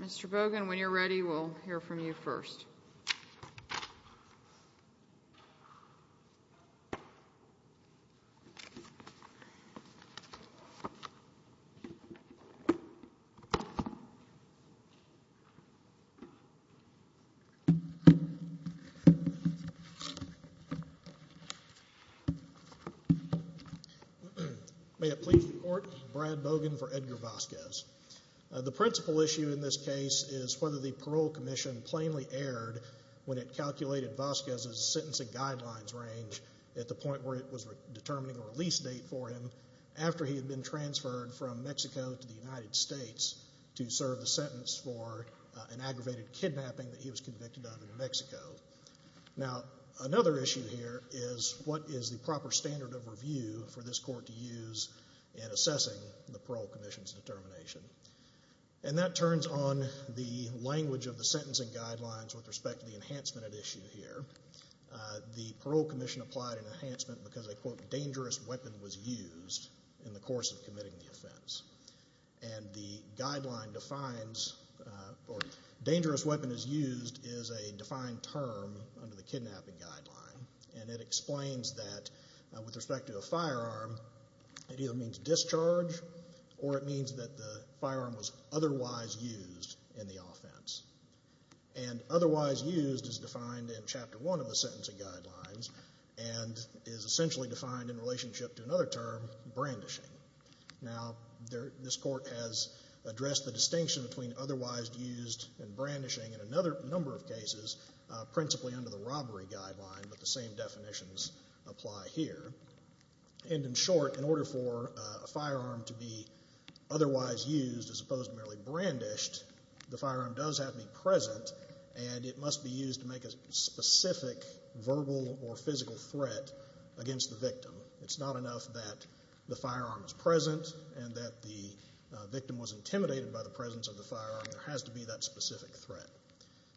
Mr. Bogan, when you're ready, we'll hear from you first. May it please the Court, Brad Bogan for Edgar Vasquez. The principal issue in this case is whether the parole commission plainly erred when it calculated Vasquez's sentencing guidelines range at the point where it was determining a release date for him after he had been transferred from Mexico to the United States to serve the sentence for an aggravated kidnapping that he was convicted of in Mexico. Now another issue here is what is the proper standard of review for this Court to use in assessing the parole commission's determination. And that turns on the language of the sentencing guidelines with respect to the enhancement at issue here. The parole commission applied an enhancement because a, quote, dangerous weapon was used in the course of committing the offense. And the guideline defines, or dangerous weapon is used, is a defined term under the kidnapping guideline. And it explains that with respect to a firearm, it either means discharge or it means that the firearm was otherwise used in the offense. And otherwise used is defined in Chapter 1 of the sentencing guidelines and is essentially defined in relationship to another term, brandishing. Now this Court has addressed the distinction between otherwise used and brandishing in another number of cases, principally under the robbery guideline, but the same definitions apply here. And in short, in order for a firearm to be otherwise used as opposed to merely brandished, the firearm does have to be present and it must be used to make a specific verbal or physical threat against the victim. It's not enough that the firearm is present and that the victim was intimidated by the presence of the firearm. There has to be that specific threat.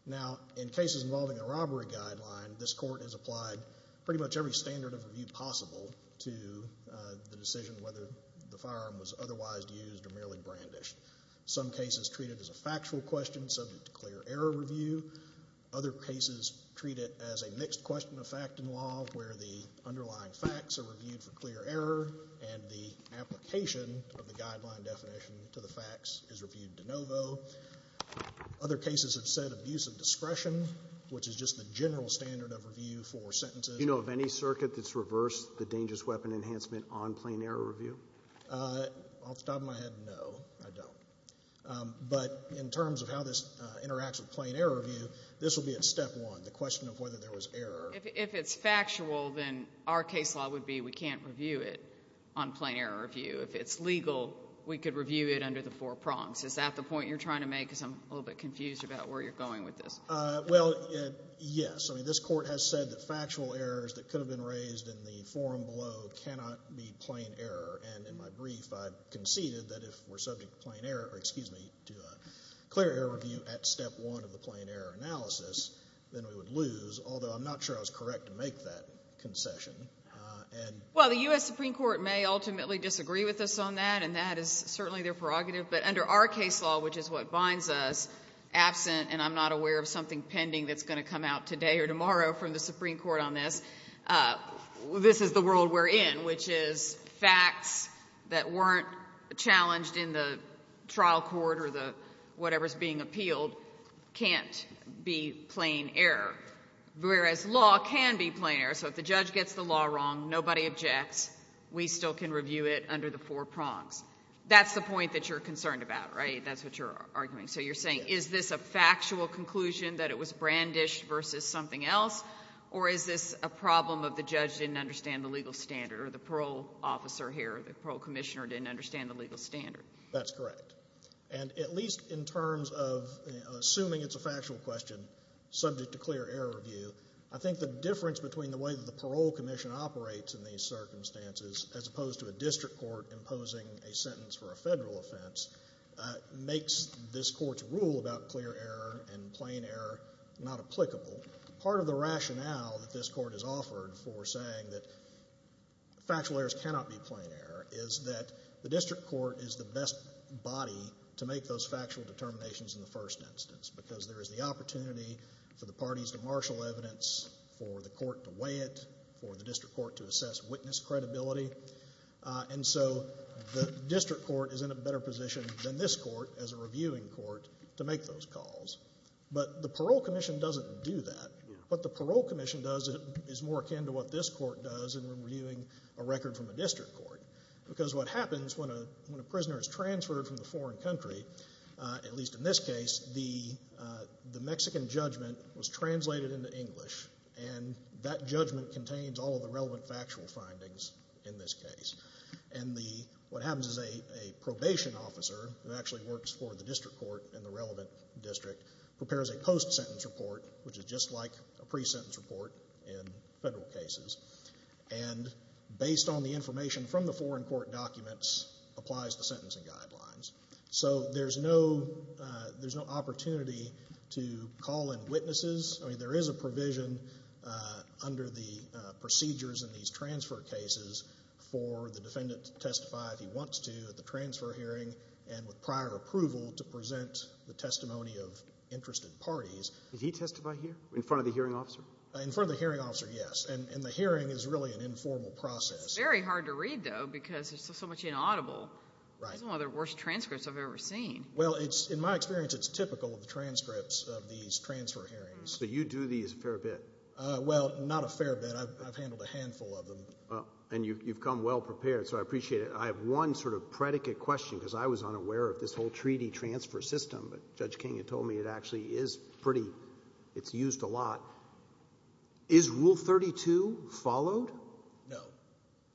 Now in cases involving a robbery guideline, this Court has applied pretty much every standard of review possible to the decision whether the firearm was otherwise used or merely brandished. Some cases treat it as a factual question subject to clear error review. Other cases treat it as a mixed question of fact and law where the underlying facts are reviewed for clear error and the application of the guideline definition to the facts is reviewed de novo. Other cases have said abuse of discretion, which is just the general standard of review for sentences. Do you know of any circuit that's reversed the dangerous weapon enhancement on plain error review? Off the top of my head, no, I don't. But in terms of how this interacts with plain error review, this will be at step one, the question of whether there was error. If it's factual, then our case law would be we can't review it on plain error review. If it's legal, we could review it under the four prongs. Is that the point you're trying to make? Because I'm a little bit confused about where you're going with this. Well, yes. I mean, this Court has said that factual errors that could have been raised in the forum below cannot be plain error. And in my brief, I conceded that if we're subject to plain error, or excuse me, to a clear error review at step one of the plain error analysis, then we would lose, although I'm not sure I was correct to make that concession. Well, the U.S. Supreme Court may ultimately disagree with us on that, and that is certainly their prerogative. But under our case law, which is what binds us, absent, and I'm not aware of something pending that's going to come out today or tomorrow from the Supreme Court on this, this is the world we're in, which is facts that weren't challenged in the trial court or the whatever's being appealed can't be plain error, whereas law can be plain error. So if the judge gets the law wrong, nobody objects. We still can review it under the four prongs. That's the point that you're concerned about, right? That's what you're arguing. So you're saying, is this a factual conclusion that it was brandished versus something else, or is this a problem of the judge didn't understand the legal standard or the parole officer here, the parole commissioner didn't understand the legal standard? That's correct. And at least in terms of assuming it's a factual question subject to clear error review, I think the difference between the way that the parole commission operates in these circumstances as opposed to a district court imposing a sentence for a federal offense makes this court's rule about clear error and plain error not applicable. Part of the rationale that this court has offered for saying that factual errors cannot be plain error is that the district court is the best body to make those factual determinations in the first instance, because there is the opportunity for the parties to marshal evidence, for the court to weigh it, for the district court to assess witness credibility. And so the district court is in a better position than this court as a reviewing court to make those calls. But the parole commission doesn't do that. What the parole commission does is more akin to what this court does in reviewing a record from a district court. Because what happens when a prisoner is transferred from the foreign country, at least in this case, the Mexican judgment was translated into English, and that judgment contains all of the relevant factual findings in this case. And what happens is a probation officer who actually works for the district court and the relevant district prepares a post-sentence report, which is just like a pre-sentence report in federal cases. And based on the information from the foreign court documents, applies the sentencing guidelines. So there's no opportunity to call in witnesses. I mean, there is a provision under the procedures in these transfer cases for the defendant to testify if he wants to at the transfer hearing and with prior approval to present the testimony of interested parties. Did he testify here, in front of the hearing officer? In front of the hearing officer, yes. And the hearing is really an informal process. It's very hard to read, though, because it's so much inaudible. Right. It's one of the worst transcripts I've ever seen. Well, in my experience, it's typical of the transcripts of these transfer hearings. So you do these a fair bit? Well, not a fair bit. I've handled a handful of them. And you've come well-prepared. So I appreciate it. I have one sort of predicate question, because I was unaware of this whole treaty transfer system. But Judge King had told me it actually is pretty — it's used a lot. Is Rule 32 followed? No.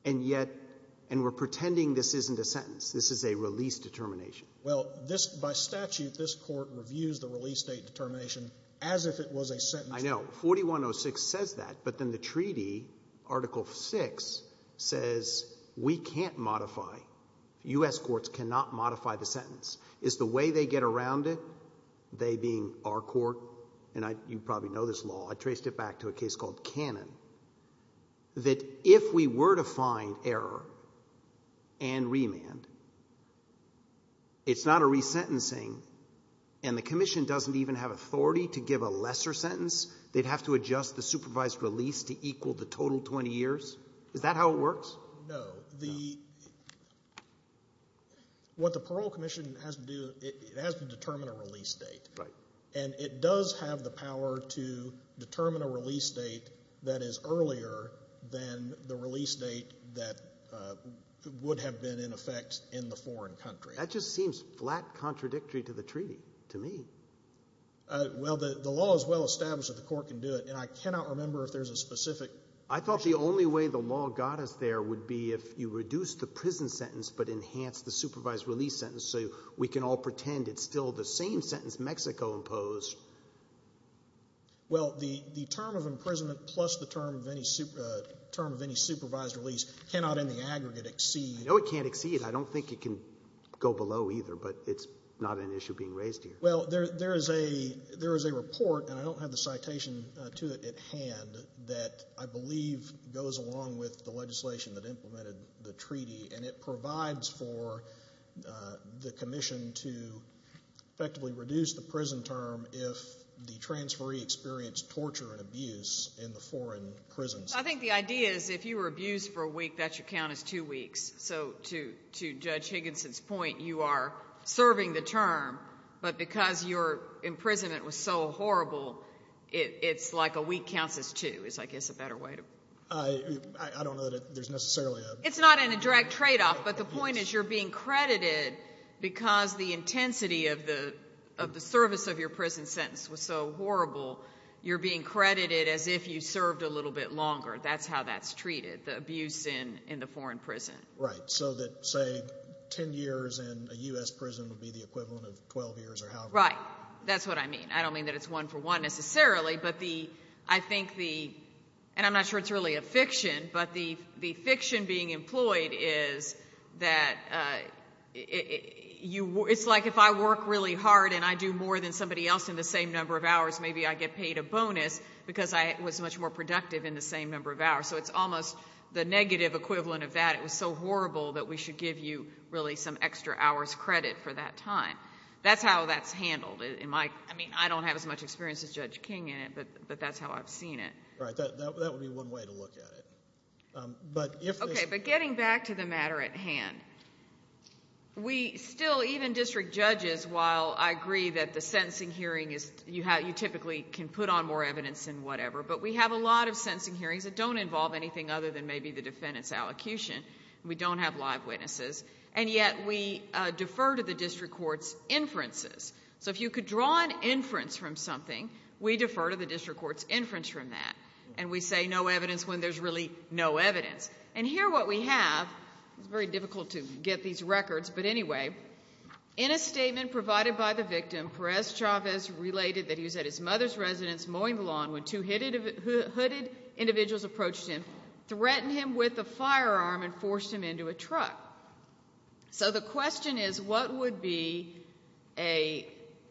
And yet — and we're pretending this isn't a sentence. This is a release determination. Well, this — by statute, this Court reviews the release date determination as if it was a sentencing. I know. I know. 4106 says that. But then the treaty, Article 6, says we can't modify — U.S. courts cannot modify the sentence. Is the way they get around it, they being our court — and you probably know this law. I traced it back to a case called Cannon — that if we were to find error and remand, it's not a resentencing. And the Commission doesn't even have authority to give a lesser sentence. They'd have to adjust the supervised release to equal the total 20 years? Is that how it works? No. The — what the Parole Commission has to do, it has to determine a release date. Right. And it does have the power to determine a release date that is earlier than the release date that would have been in effect in the foreign country. That just seems flat contradictory to the treaty to me. Well, the law is well established that the court can do it. And I cannot remember if there's a specific — I thought the only way the law got us there would be if you reduced the prison sentence but enhanced the supervised release sentence so we can all pretend it's still the same sentence Mexico imposed. Well, the term of imprisonment plus the term of any supervised release cannot in the aggregate exceed — I know it can't exceed. I don't think it can go below either. But it's not an issue being raised here. Well, there is a — there is a report, and I don't have the citation to it at hand, that I believe goes along with the legislation that implemented the treaty, and it provides for the commission to effectively reduce the prison term if the transferee experienced torture and abuse in the foreign prisons. I think the idea is if you were abused for a week, that should count as two weeks. So to Judge Higginson's point, you are serving the term, but because your imprisonment was so horrible, it's like a week counts as two is, I guess, a better way to — I don't know that there's necessarily a — It's not in a direct tradeoff, but the point is you're being credited because the intensity of the service of your prison sentence was so horrible, you're being credited as if you served a little bit longer. That's how that's treated, the abuse in the foreign prison. Right. So that, say, 10 years in a U.S. prison would be the equivalent of 12 years or however long. Right. That's what I mean. I don't mean that it's one-for-one necessarily, but the — I think the — and I'm not sure it's really a fiction, but the fiction being employed is that you — it's like if I work really hard and I do more than somebody else in the same number of hours, maybe I get paid a bonus because I was much more productive in the same number of hours. So it's almost the negative equivalent of that. It was so horrible that we should give you really some extra hours credit for that time. That's how that's handled in my — I mean, I don't have as much experience as Judge King in it, but that's how I've seen it. Right. That would be one way to look at it. But if — Okay. But getting back to the matter at hand, we still — even district judges, while I agree that the sentencing hearing is — you typically can put on more evidence than whatever, but we have a lot of sentencing hearings that don't involve anything other than maybe the defendant's allocution, and we don't have live witnesses. And yet we defer to the district court's inferences. So if you could draw an inference from something, we defer to the district court's inference from that. And we say no evidence when there's really no evidence. And here what we have — it's very difficult to get these records, but anyway — in a statement provided by the victim, Perez-Chavez related that he was at his mother's residence mowing the lawn when two hooded individuals approached him, threatened him with a firearm, and forced him into a truck. So the question is, what would be an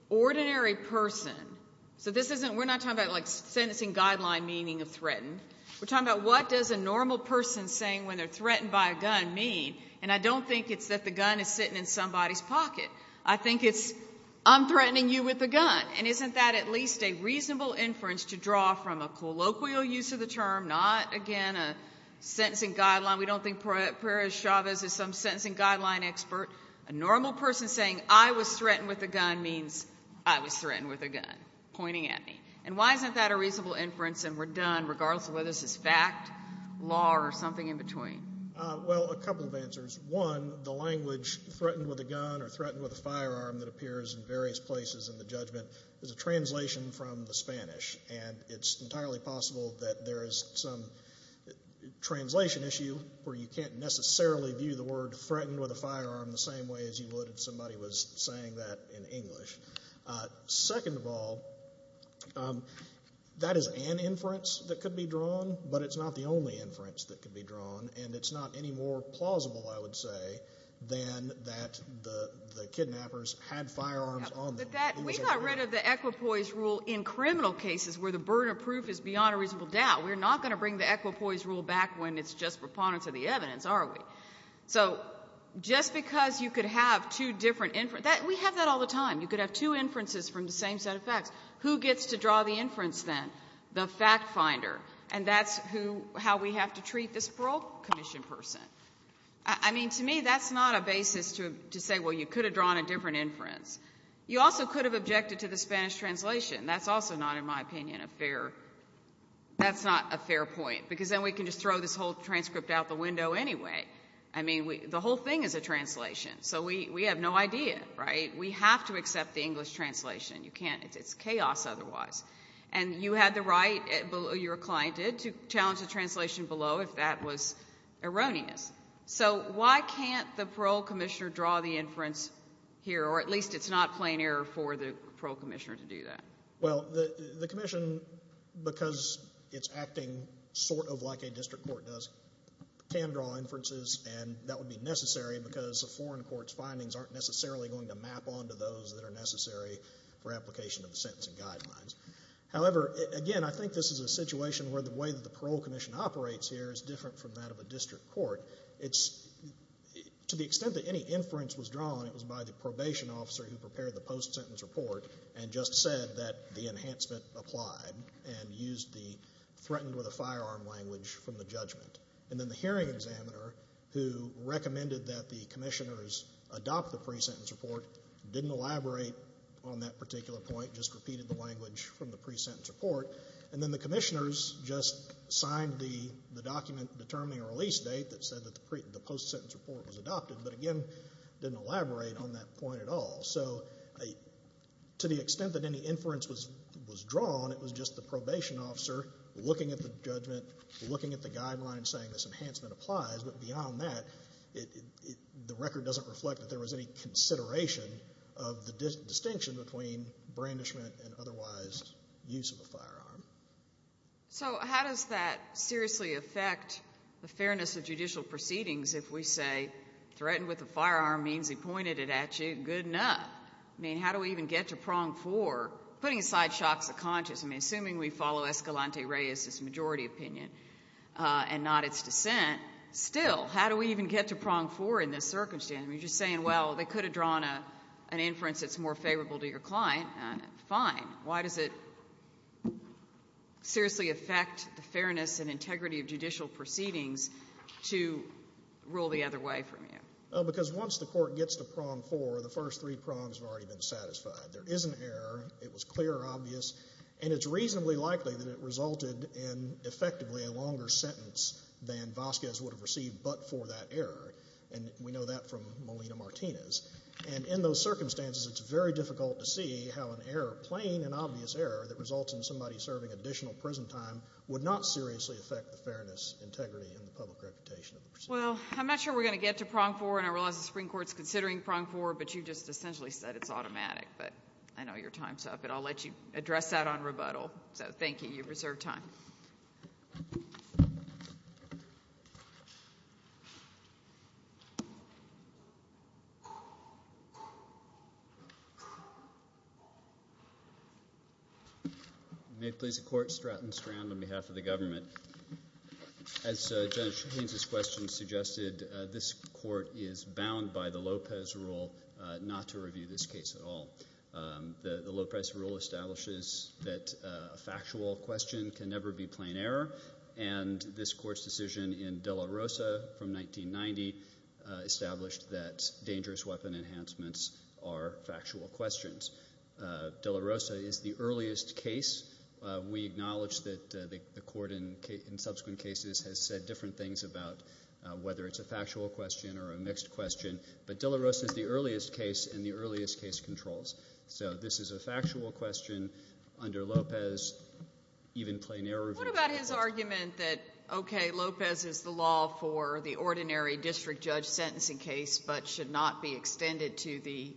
ordinary person — so this isn't — we're not talking about, like, sentencing guideline meaning of threatened. We're talking about, what does a normal person saying when they're threatened by a gun mean? And I don't think it's that the gun is sitting in somebody's pocket. I think it's, I'm threatening you with a gun. And isn't that at least a reasonable inference to draw from a colloquial use of the term, not, again, a sentencing guideline? We don't think Perez-Chavez is some sentencing guideline expert. A normal person saying I was threatened with a gun means I was threatened with a gun, pointing at me. And why isn't that a reasonable inference, and we're done, regardless of whether this is fact, law, or something in between? Well, a couple of answers. One, the language threatened with a gun or threatened with a firearm that appears in various places in the judgment is a translation from the Spanish, and it's entirely possible that there is some translation issue where you can't necessarily view the word threatened with a firearm the same way as you would if somebody was saying that in English. Second of all, that is an inference that could be drawn, but it's not the only inference that could be drawn, and it's not any more plausible, I would say, than that the kidnappers had firearms on them. But that we got rid of the equipoise rule in criminal cases where the burden of proof is beyond a reasonable doubt. We're not going to bring the equipoise rule back when it's just preponderance of the evidence, are we? So just because you could have two different inferences, we have that all the time. You could have two inferences from the same set of facts. Who gets to draw the inference then? The fact finder. And that's how we have to treat this parole commission person. I mean, to me, that's not a basis to say, well, you could have drawn a different inference. You also could have objected to the Spanish translation. That's also not, in my opinion, a fair... That's not a fair point, because then we can just throw this whole transcript out the window anyway. I mean, the whole thing is a translation. So we have no idea, right? We have to accept the English translation. You can't... It's chaos otherwise. And you had the right, your client did, to challenge the translation below if that was erroneous. So why can't the parole commissioner draw the inference here, or at least it's not plain error for the parole commissioner to do that? Well, the commission, because it's acting sort of like a district court does, can draw inferences, and that would be necessary because a foreign court's findings aren't necessarily going to map onto those that are necessary for application of the sentencing guidelines. However, again, I think this is a situation where the way that the parole commission operates here is different from that of a district court. To the extent that any inference was drawn, it was by the probation officer who prepared the post-sentence report and just said that the enhancement applied and used the threatened with a firearm language from the judgment. And then the hearing examiner who recommended that the commissioners adopt the pre-sentence report didn't elaborate on that particular point, just repeated the language from the pre-sentence report. And then the commissioners just signed the document determining a release date that said that the post-sentence report was adopted, but again, didn't elaborate on that point at all. So to the extent that any inference was drawn, it was just the probation officer looking at the judgment, looking at the guidelines, saying this enhancement applies. But beyond that, the record doesn't reflect that there was any consideration of the distinction between brandishment and otherwise use of a firearm. So how does that seriously affect the fairness of judicial proceedings if we say threatened with a firearm means he pointed it at you, good enough? I mean, how do we even get to prong four? Putting aside shocks of conscience, I mean, assuming we follow Escalante Reyes's majority opinion and not its dissent, still, how do we even get to prong four in this circumstance? I mean, you're just saying, well, they could have drawn an inference that's more favorable to your client. Fine. Why does it seriously affect the fairness and integrity of judicial proceedings to rule the other way from you? Because once the court gets to prong four, the first three prongs have already been satisfied. There is an error. It was clear or obvious. And it's reasonably likely that it resulted in, effectively, a longer sentence than Vasquez would have received but for that error. And we know that from Molina-Martinez. And in those circumstances, it's very difficult to see how an error, plain and obvious error, that results in somebody serving additional prison time would not seriously affect the fairness, integrity, and the public reputation of the proceedings. Well, I'm not sure we're going to get to prong four, and I realize the Supreme Court's considering prong four, but you just essentially said it's automatic. But I know your time's up. But I'll let you address that on rebuttal. So, thank you. You've reserved time. May it please the Court, Stratton Strand, on behalf of the government. As Judge Haynes's question suggested, this court is bound by the Lopez rule not to review this case at all. The Lopez rule establishes that a factual question can never be plain error. And this court's decision in De La Rosa from 1990 established that dangerous weapon enhancements are factual questions. De La Rosa is the earliest case. We acknowledge that the court in subsequent cases has said different things about whether it's a factual question or a mixed question. But De La Rosa is the earliest case and the earliest case controls. So this is a factual question under Lopez, even plain error review. What about his argument that, okay, Lopez is the law for the ordinary district judge sentencing case, but should not be extended to the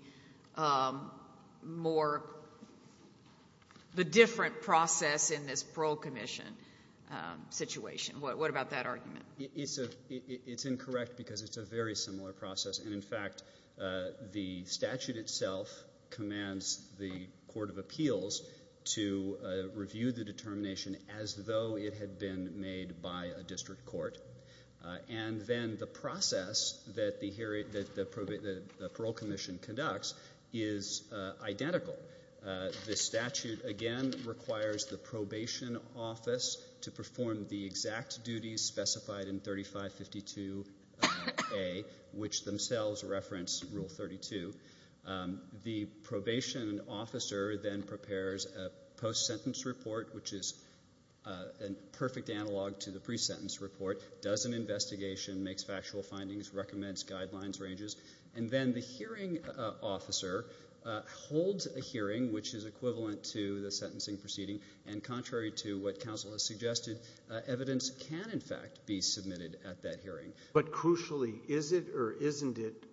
more, the different process in this parole commission situation? What about that argument? It's incorrect because it's a very similar process. And in fact, the statute itself commands the court of appeals to review the determination as though it had been made by a district court. And then the process that the parole commission conducts is identical. The statute, again, requires the probation office to perform the exact duties specified in 3552A, which themselves reference Rule 32. The probation officer then prepares a post-sentence report, which is a perfect analog to the pre-sentence report, does an investigation, makes factual findings, recommends guidelines, ranges. And then the hearing officer holds a hearing, which is equivalent to the sentencing proceeding. And contrary to what counsel has suggested, evidence can, in fact, be submitted at that hearing. But crucially, is it or isn't it,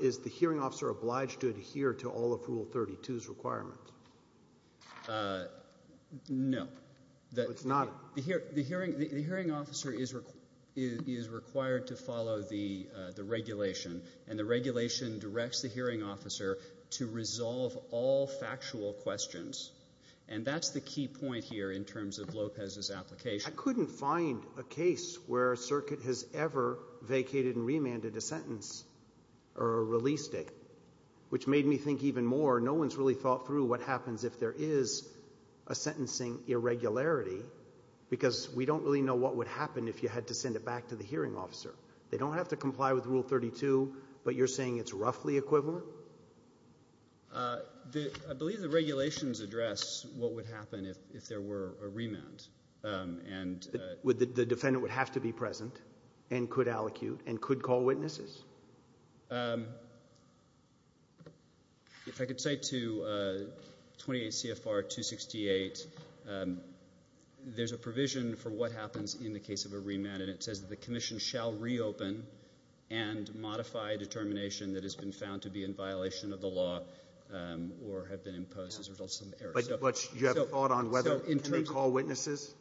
is the hearing officer obliged to adhere to all of Rule 32's requirements? No. So it's not a... The hearing officer is required to follow the regulation, and the regulation directs the hearing officer to resolve all factual questions. And that's the key point here in terms of Lopez's application. I couldn't find a case where a circuit has ever vacated and remanded a sentence or released it, which made me think even more, no one's really thought through what happens if there is a sentencing irregularity, because we don't really know what would happen if you had to send it back to the hearing officer. They don't have to comply with Rule 32, but you're saying it's roughly equivalent? I believe the regulations address what would happen if there were a remand, and... The defendant would have to be present, and could allocute, and could call witnesses? If I could cite to 28 CFR 268, there's a provision for what happens in the case of a remand, and it says that the commission shall reopen and modify a determination that has been found to be in violation of the law, or have been imposed as a result of some error. But you have a thought on whether, can they call witnesses?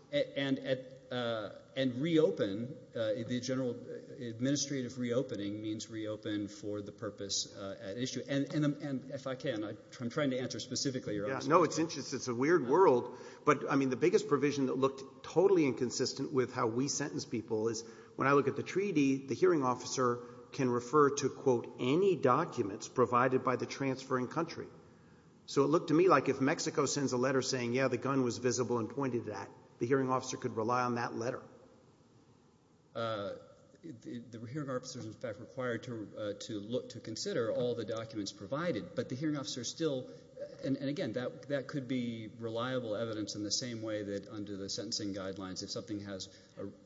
And reopen, the general administrative reopening means reopen for the purpose at issue. And if I can, I'm trying to answer specifically your question. No, it's interesting. It's a weird world. But, I mean, the biggest provision that looked totally inconsistent with how we sentence people is, when I look at the treaty, the hearing officer can refer to, quote, any documents provided by the transferring country. So it looked to me like if Mexico sends a letter saying, yeah, the gun was visible and I pointed to that, the hearing officer could rely on that letter. The hearing officer is, in fact, required to look to consider all the documents provided. But the hearing officer still, and again, that could be reliable evidence in the same way that under the sentencing guidelines, if something has,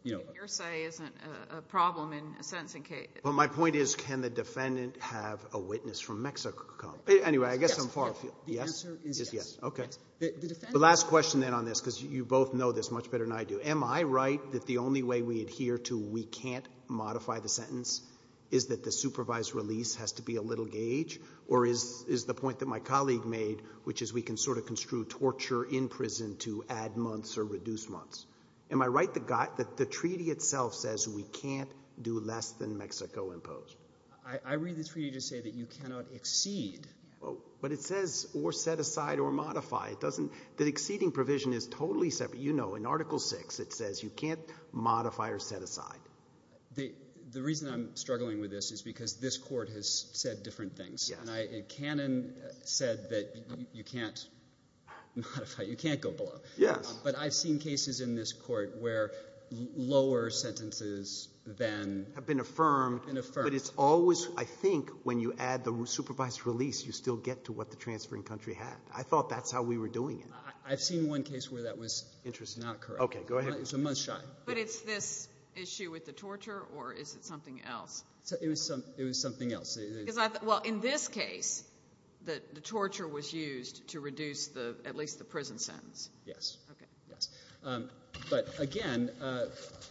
you know. Your say isn't a problem in a sentencing case. But my point is, can the defendant have a witness from Mexico? Anyway, I guess I'm far afield. Yes. The answer is yes. Okay. The last question, then, on this, because you both know this much better than I do. Am I right that the only way we adhere to we can't modify the sentence is that the supervised release has to be a little gauge? Or is the point that my colleague made, which is we can sort of construe torture in prison to add months or reduce months. Am I right that the treaty itself says we can't do less than Mexico imposed? I read the treaty to say that you cannot exceed. But it says or set aside or modify. The exceeding provision is totally separate. You know, in Article VI, it says you can't modify or set aside. The reason I'm struggling with this is because this court has said different things. And Canon said that you can't modify. You can't go below. Yes. But I've seen cases in this court where lower sentences than have been affirmed. But it's always, I think, when you add the supervised release, you still get to what the transferring country had. I thought that's how we were doing it. I've seen one case where that was not correct. Okay. Go ahead. It was a month shy. But it's this issue with the torture or is it something else? It was something else. Because I thought, well, in this case, the torture was used to reduce at least the prison sentence. Yes. Okay. Yes. But again, I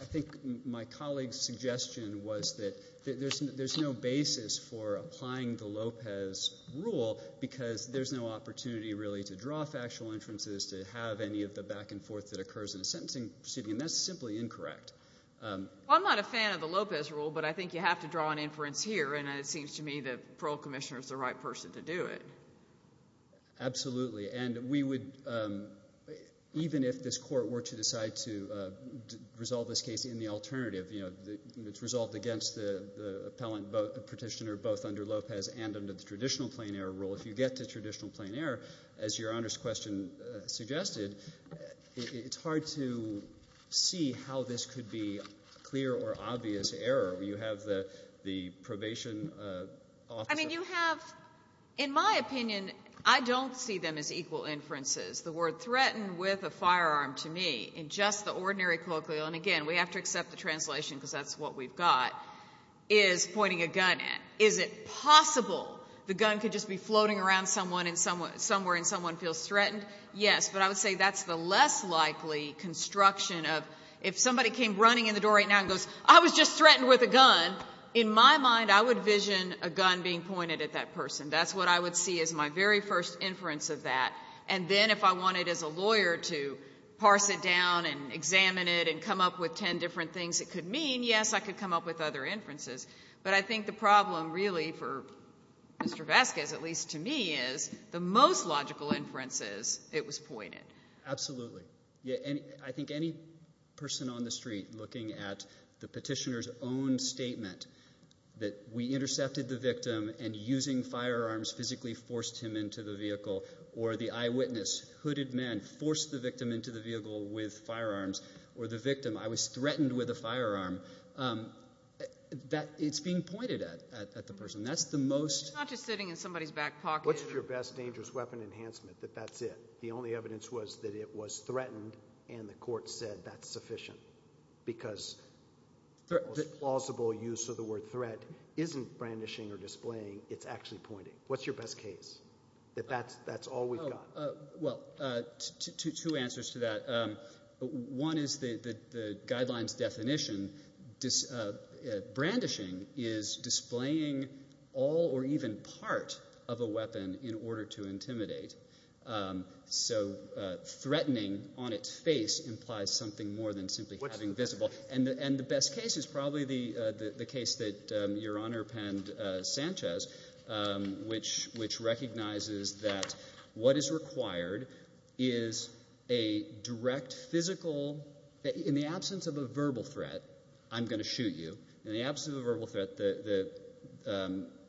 think my colleague's suggestion was that there's no basis for applying the Lopez rule because there's no opportunity really to draw factual inferences, to have any of the back and forth that occurs in a sentencing proceeding. And that's simply incorrect. Well, I'm not a fan of the Lopez rule. But I think you have to draw an inference here. And it seems to me that the parole commissioner is the right person to do it. Absolutely. And we would, even if this court were to decide to resolve this case in the alternative, you know, it's resolved against the appellant petitioner, both under Lopez and under the traditional plain error rule. If you get to traditional plain error, as Your Honor's question suggested, it's hard to see how this could be clear or obvious error. You have the probation officer. I mean, you have, in my opinion, I don't see them as equal inferences. The word threatened with a firearm, to me, in just the ordinary colloquial, and again, we have to accept the translation because that's what we've got, is pointing a gun at. Is it possible the gun could just be floating around somewhere and someone feels threatened? Yes. But I would say that's the less likely construction of if somebody came running in the door right now and goes, I was just threatened with a gun. In my mind, I would vision a gun being pointed at that person. That's what I would see as my very first inference of that. And then if I wanted, as a lawyer, to parse it down and examine it and come up with ten different things it could mean, yes, I could come up with other inferences. But I think the problem, really, for Mr. Vasquez, at least to me, is the most logical inferences, it was pointed. Absolutely. I think any person on the street looking at the petitioner's own statement that we intercepted the victim and using firearms physically forced him into the vehicle, or the eyewitness, hooded man, forced the victim into the vehicle with firearms, or the victim, I was threatened with a firearm, it's being pointed at the person. That's the most... It's not just sitting in somebody's back pocket. What's your best dangerous weapon enhancement that that's it? The only evidence was that it was threatened and the court said that's sufficient. Because the most plausible use of the word threat isn't brandishing or displaying, it's actually pointing. What's your best case? That's all we've got. Well, two answers to that. One is the guideline's definition. Brandishing is displaying all or even part of a weapon in order to intimidate. So threatening on its face implies something more than simply having visible. And the best case is probably the case that Your Honor penned, Sanchez, which recognizes that what is required is a direct physical, in the absence of a verbal threat, I'm going to shoot you. In the absence of a verbal threat, the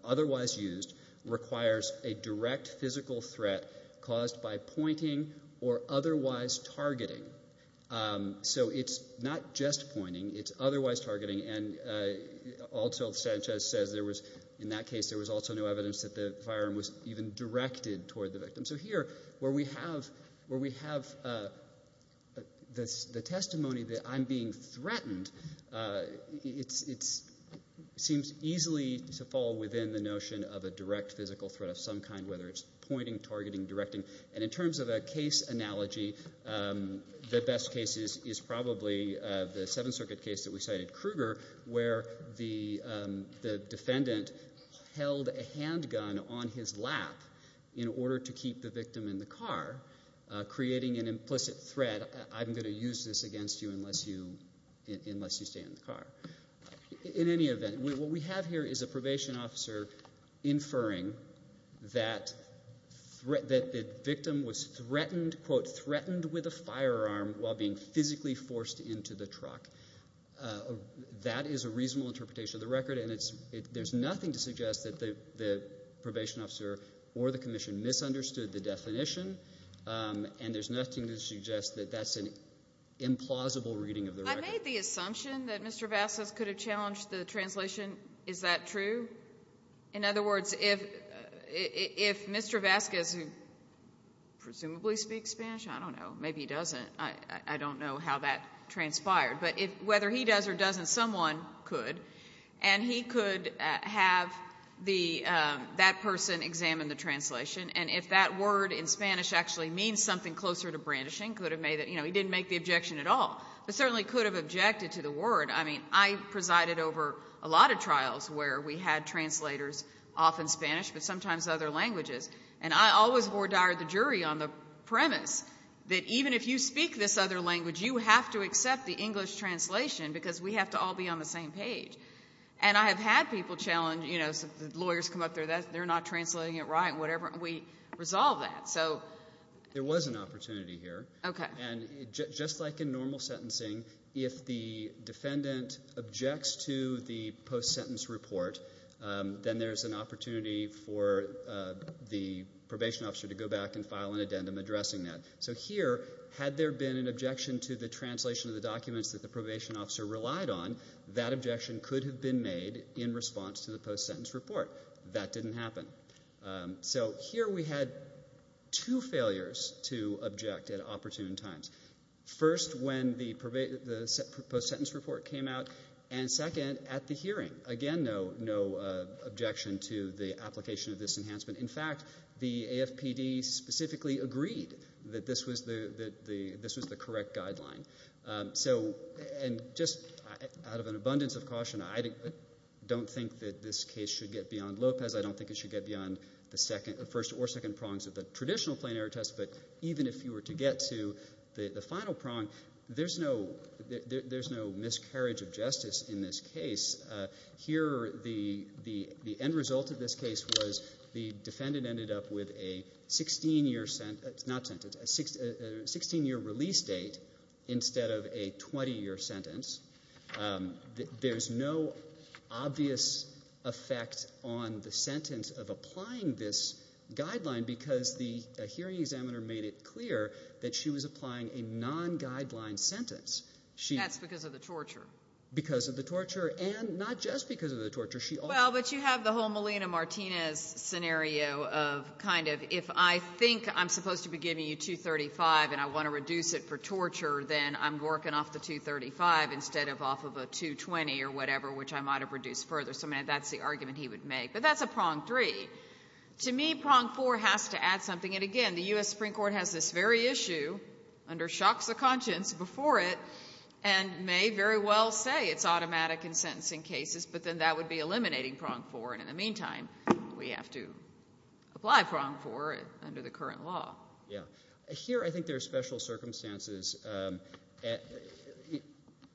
otherwise used requires a direct physical threat caused by pointing or otherwise targeting. So it's not just pointing, it's otherwise targeting. And also, Sanchez says, in that case there was also no evidence that the firearm was even directed toward the victim. So here, where we have the testimony that I'm being threatened, it seems easily to fall within the notion of a direct physical threat of some kind, whether it's pointing, targeting, directing. And in terms of a case analogy, the best case is probably the Seventh Circuit case that you cited, Kruger, where the defendant held a handgun on his lap in order to keep the victim in the car, creating an implicit threat, I'm going to use this against you unless you stay in the car. In any event, what we have here is a probation officer inferring that the victim was threatened with a firearm while being physically forced into the truck. That is a reasonable interpretation of the record, and there's nothing to suggest that the probation officer or the commission misunderstood the definition, and there's nothing to suggest that that's an implausible reading of the record. I made the assumption that Mr. Vasquez could have challenged the translation. Is that true? In other words, if Mr. Vasquez, who presumably speaks Spanish, I don't know, maybe he doesn't, I don't know how that transpired, but whether he does or doesn't, someone could, and he could have that person examine the translation, and if that word in Spanish actually means something closer to brandishing, he didn't make the objection at all, but certainly could have objected to the word. I mean, I presided over a lot of trials where we had translators, often Spanish, but sometimes other languages, and I always ordered the jury on the premise that even if you speak this other language, you have to accept the English translation because we have to all be on the same page. And I have had people challenge, you know, lawyers come up there, they're not translating it right, whatever, and we resolve that. So... There was an opportunity here. Okay. And just like in normal sentencing, if the defendant objects to the post-sentence report, then there's an opportunity for the probation officer to go back and file an addendum addressing that. So here, had there been an objection to the translation of the documents that the probation officer relied on, that objection could have been made in response to the post-sentence report. That didn't happen. So here, we had two failures to object at opportune times. First, when the post-sentence report came out, and second, at the hearing. Again, no objection to the application of this enhancement. In fact, the AFPD specifically agreed that this was the correct guideline. So just out of an abundance of caution, I don't think that this case should get beyond the first or second prongs of the traditional plain error test, but even if you were to get to the final prong, there's no miscarriage of justice in this case. Here, the end result of this case was the defendant ended up with a 16-year release date instead of a 20-year sentence. There's no obvious effect on the sentence of applying this guideline because the hearing examiner made it clear that she was applying a non-guideline sentence. That's because of the torture. Because of the torture, and not just because of the torture. Well, but you have the whole Melina Martinez scenario of kind of, if I think I'm supposed to be giving you 235 and I want to reduce it for torture, then I'm working off the 235 instead of off of a 220 or whatever, which I might have reduced further. So that's the argument he would make. But that's a prong three. To me, prong four has to add something. And again, the U.S. Supreme Court has this very issue under shocks of conscience before it and may very well say it's automatic in sentencing cases, but then that would be eliminating prong four. And in the meantime, we have to apply prong four under the current law. Yeah. Here I think there are special circumstances.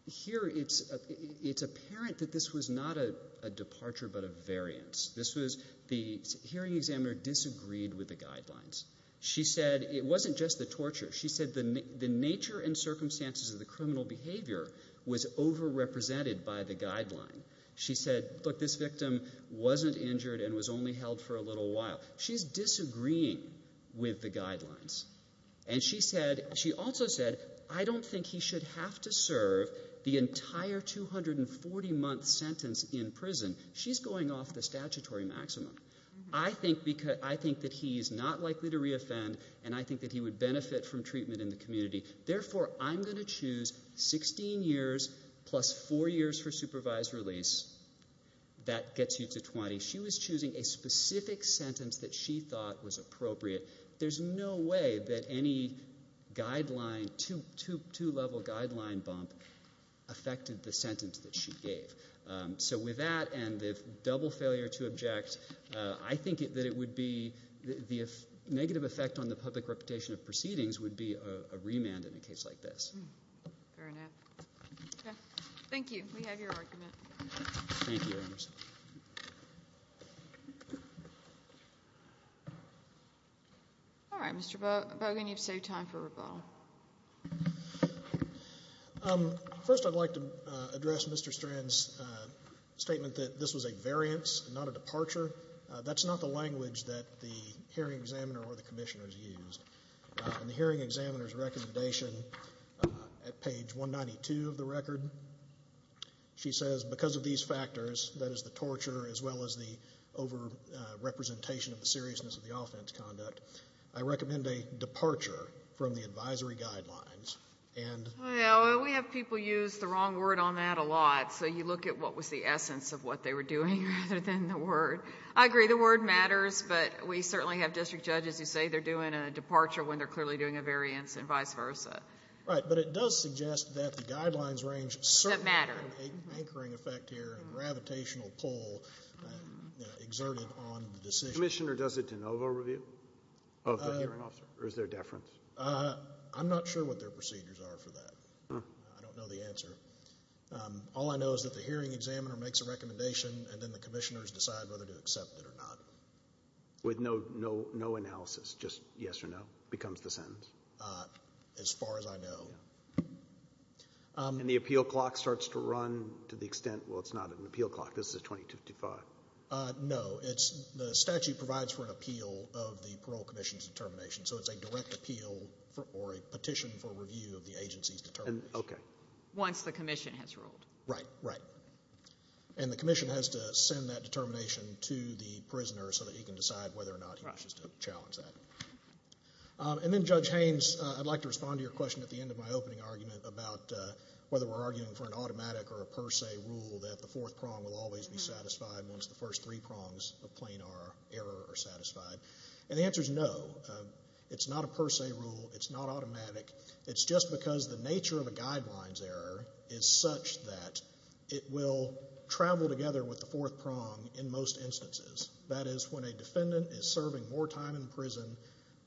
Here it's apparent that this was not a departure but a variance. This was the hearing examiner disagreed with the guidelines. She said it wasn't just the torture. She said the nature and circumstances of the criminal behavior was over-represented by the guideline. She said, look, this victim wasn't injured and was only held for a little while. She's disagreeing with the guidelines. And she also said, I don't think he should have to serve the entire 240-month sentence in prison. She's going off the statutory maximum. I think that he is not likely to re-offend, and I think that he would benefit from treatment in the community. Therefore, I'm going to choose 16 years plus four years for supervised release. That gets you to 20. She was choosing a specific sentence that she thought was appropriate. There's no way that any two-level guideline bump affected the sentence that she gave. So with that and the double failure to object, I think that it would be the negative effect on the public reputation of proceedings would be a remand in a case like this. Fair enough. OK. Thank you. We have your argument. Thank you. Thank you, Mr. Strands. All right, Mr. Bogan, you've saved time for rebuttal. First I'd like to address Mr. Strands' statement that this was a variance, not a departure. That's not the language that the hearing examiner or the commissioners used. In the hearing examiner's recommendation at page 192 of the record, she says, because of these factors, that is the torture as well as the over-representation of the seriousness of the offense conduct, I recommend a departure from the advisory guidelines. We have people use the wrong word on that a lot, so you look at what was the essence of what they were doing rather than the word. I agree, the word matters, but we certainly have district judges who say they're doing a departure when they're clearly doing a variance and vice versa. Right, but it does suggest that the guidelines range certainly have an anchoring effect. Here, a gravitational pull exerted on the decision. Commissioner does a de novo review of the hearing officer, or is there a deference? I'm not sure what their procedures are for that. I don't know the answer. All I know is that the hearing examiner makes a recommendation and then the commissioners decide whether to accept it or not. With no analysis, just yes or no becomes the sentence? As far as I know. And the appeal clock starts to run to the extent, well, it's not an appeal clock, this is a 2255. No, the statute provides for an appeal of the parole commission's determination, so it's a direct appeal or a petition for review of the agency's determination. Once the commission has ruled. Right, and the commission has to send that determination to the prisoner so that he can decide whether or not he wishes to challenge that. And then Judge Haynes, I'd like to respond to your question at the end of my opening argument about whether we're arguing for an automatic or a per se rule that the fourth prong will always be satisfied once the first three prongs of plain error are satisfied. And the answer is no. It's not a per se rule, it's not automatic. It's just because the nature of a guidelines error is such that it will travel together with the fourth prong in most instances. That is, when a defendant is serving more time in prison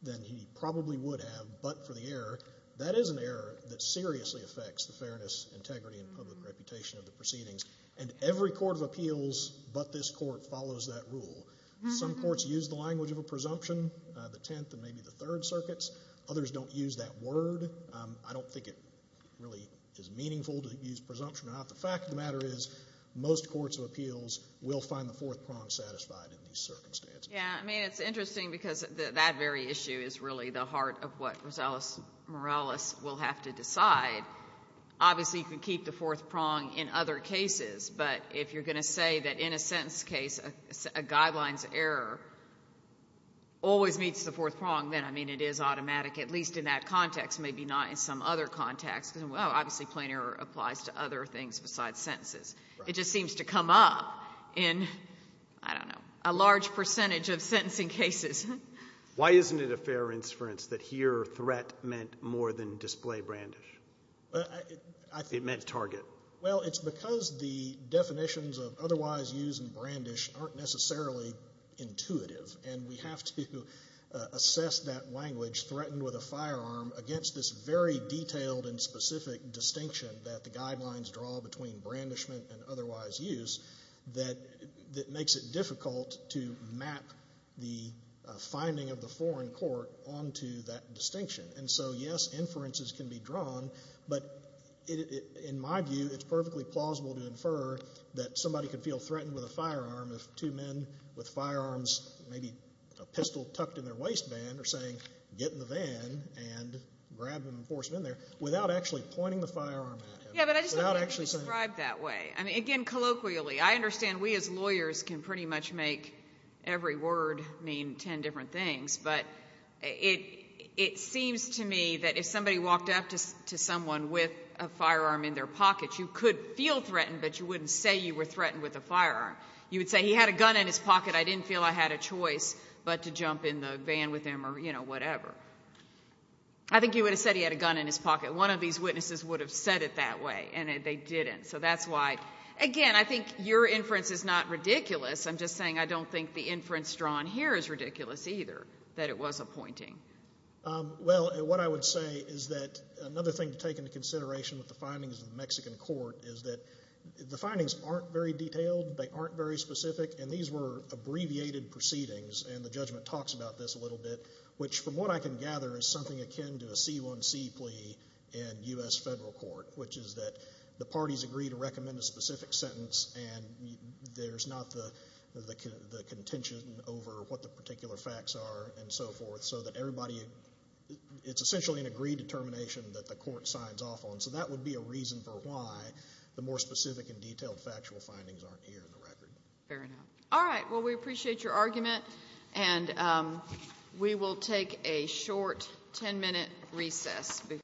than he probably would have but for the error, that is an error that seriously affects the fairness, integrity, and public reputation of the proceedings. And every court of appeals but this court follows that rule. Some courts use the language of a presumption, the Tenth and maybe the Third Circuits. Others don't use that word. I don't think it really is meaningful to use presumption or not. The fact of the matter is most courts of appeals will find the fourth prong satisfied in these circumstances. Yeah. I mean it's interesting because that very issue is really the heart of what Rosales Morales will have to decide. Obviously you can keep the fourth prong in other cases but if you're going to say that in a sentence case a guidelines error always meets the fourth prong then I mean it is automatic at least in that context, maybe not in some other context because well obviously plain error applies to other things besides sentences. It just seems to come up in, I don't know, a large percentage of sentencing cases. Why isn't it a fair inference that here threat meant more than display brandish? It meant target. Well, it's because the definitions of otherwise use and brandish aren't necessarily intuitive and we have to assess that language threatened with a firearm against this very detailed and specific distinction that the guidelines draw between brandishment and otherwise use that makes it difficult to map the finding of the foreign court onto that distinction. And so, yes, inferences can be drawn but in my view it's perfectly plausible to infer that somebody could feel threatened with a firearm if two men with firearms, maybe a pistol tucked in their waistband are saying get in the van and grab them and force them to get in there without actually pointing the firearm at him. Yeah, but I just don't think we describe that way. I mean, again, colloquially I understand we as lawyers can pretty much make every word mean ten different things but it seems to me that if somebody walked up to someone with a firearm in their pocket you could feel threatened but you wouldn't say you were threatened with a firearm. You would say he had a gun in his pocket, I didn't feel I had a choice but to jump in the van with him or, you know, whatever. I think you would have said he had a gun in his pocket. One of these witnesses would have said it that way and they didn't. So that's why, again, I think your inference is not ridiculous, I'm just saying I don't think the inference drawn here is ridiculous either that it was a pointing. Well, what I would say is that another thing to take into consideration with the findings of the Mexican court is that the findings aren't very detailed, they aren't very specific and these were abbreviated proceedings and the judgment talks about this a little bit which from what I can gather is something akin to a C1C plea in U.S. federal court which is that the parties agree to recommend a specific sentence and there's not the contention over what the particular facts are and so forth so that everybody, it's essentially an agreed determination that the court signs off on so that would be a reason for why the more specific and detailed factual findings aren't here in the record. Fair enough. All right. Well, we appreciate your argument and we will take a short 10 minute recess.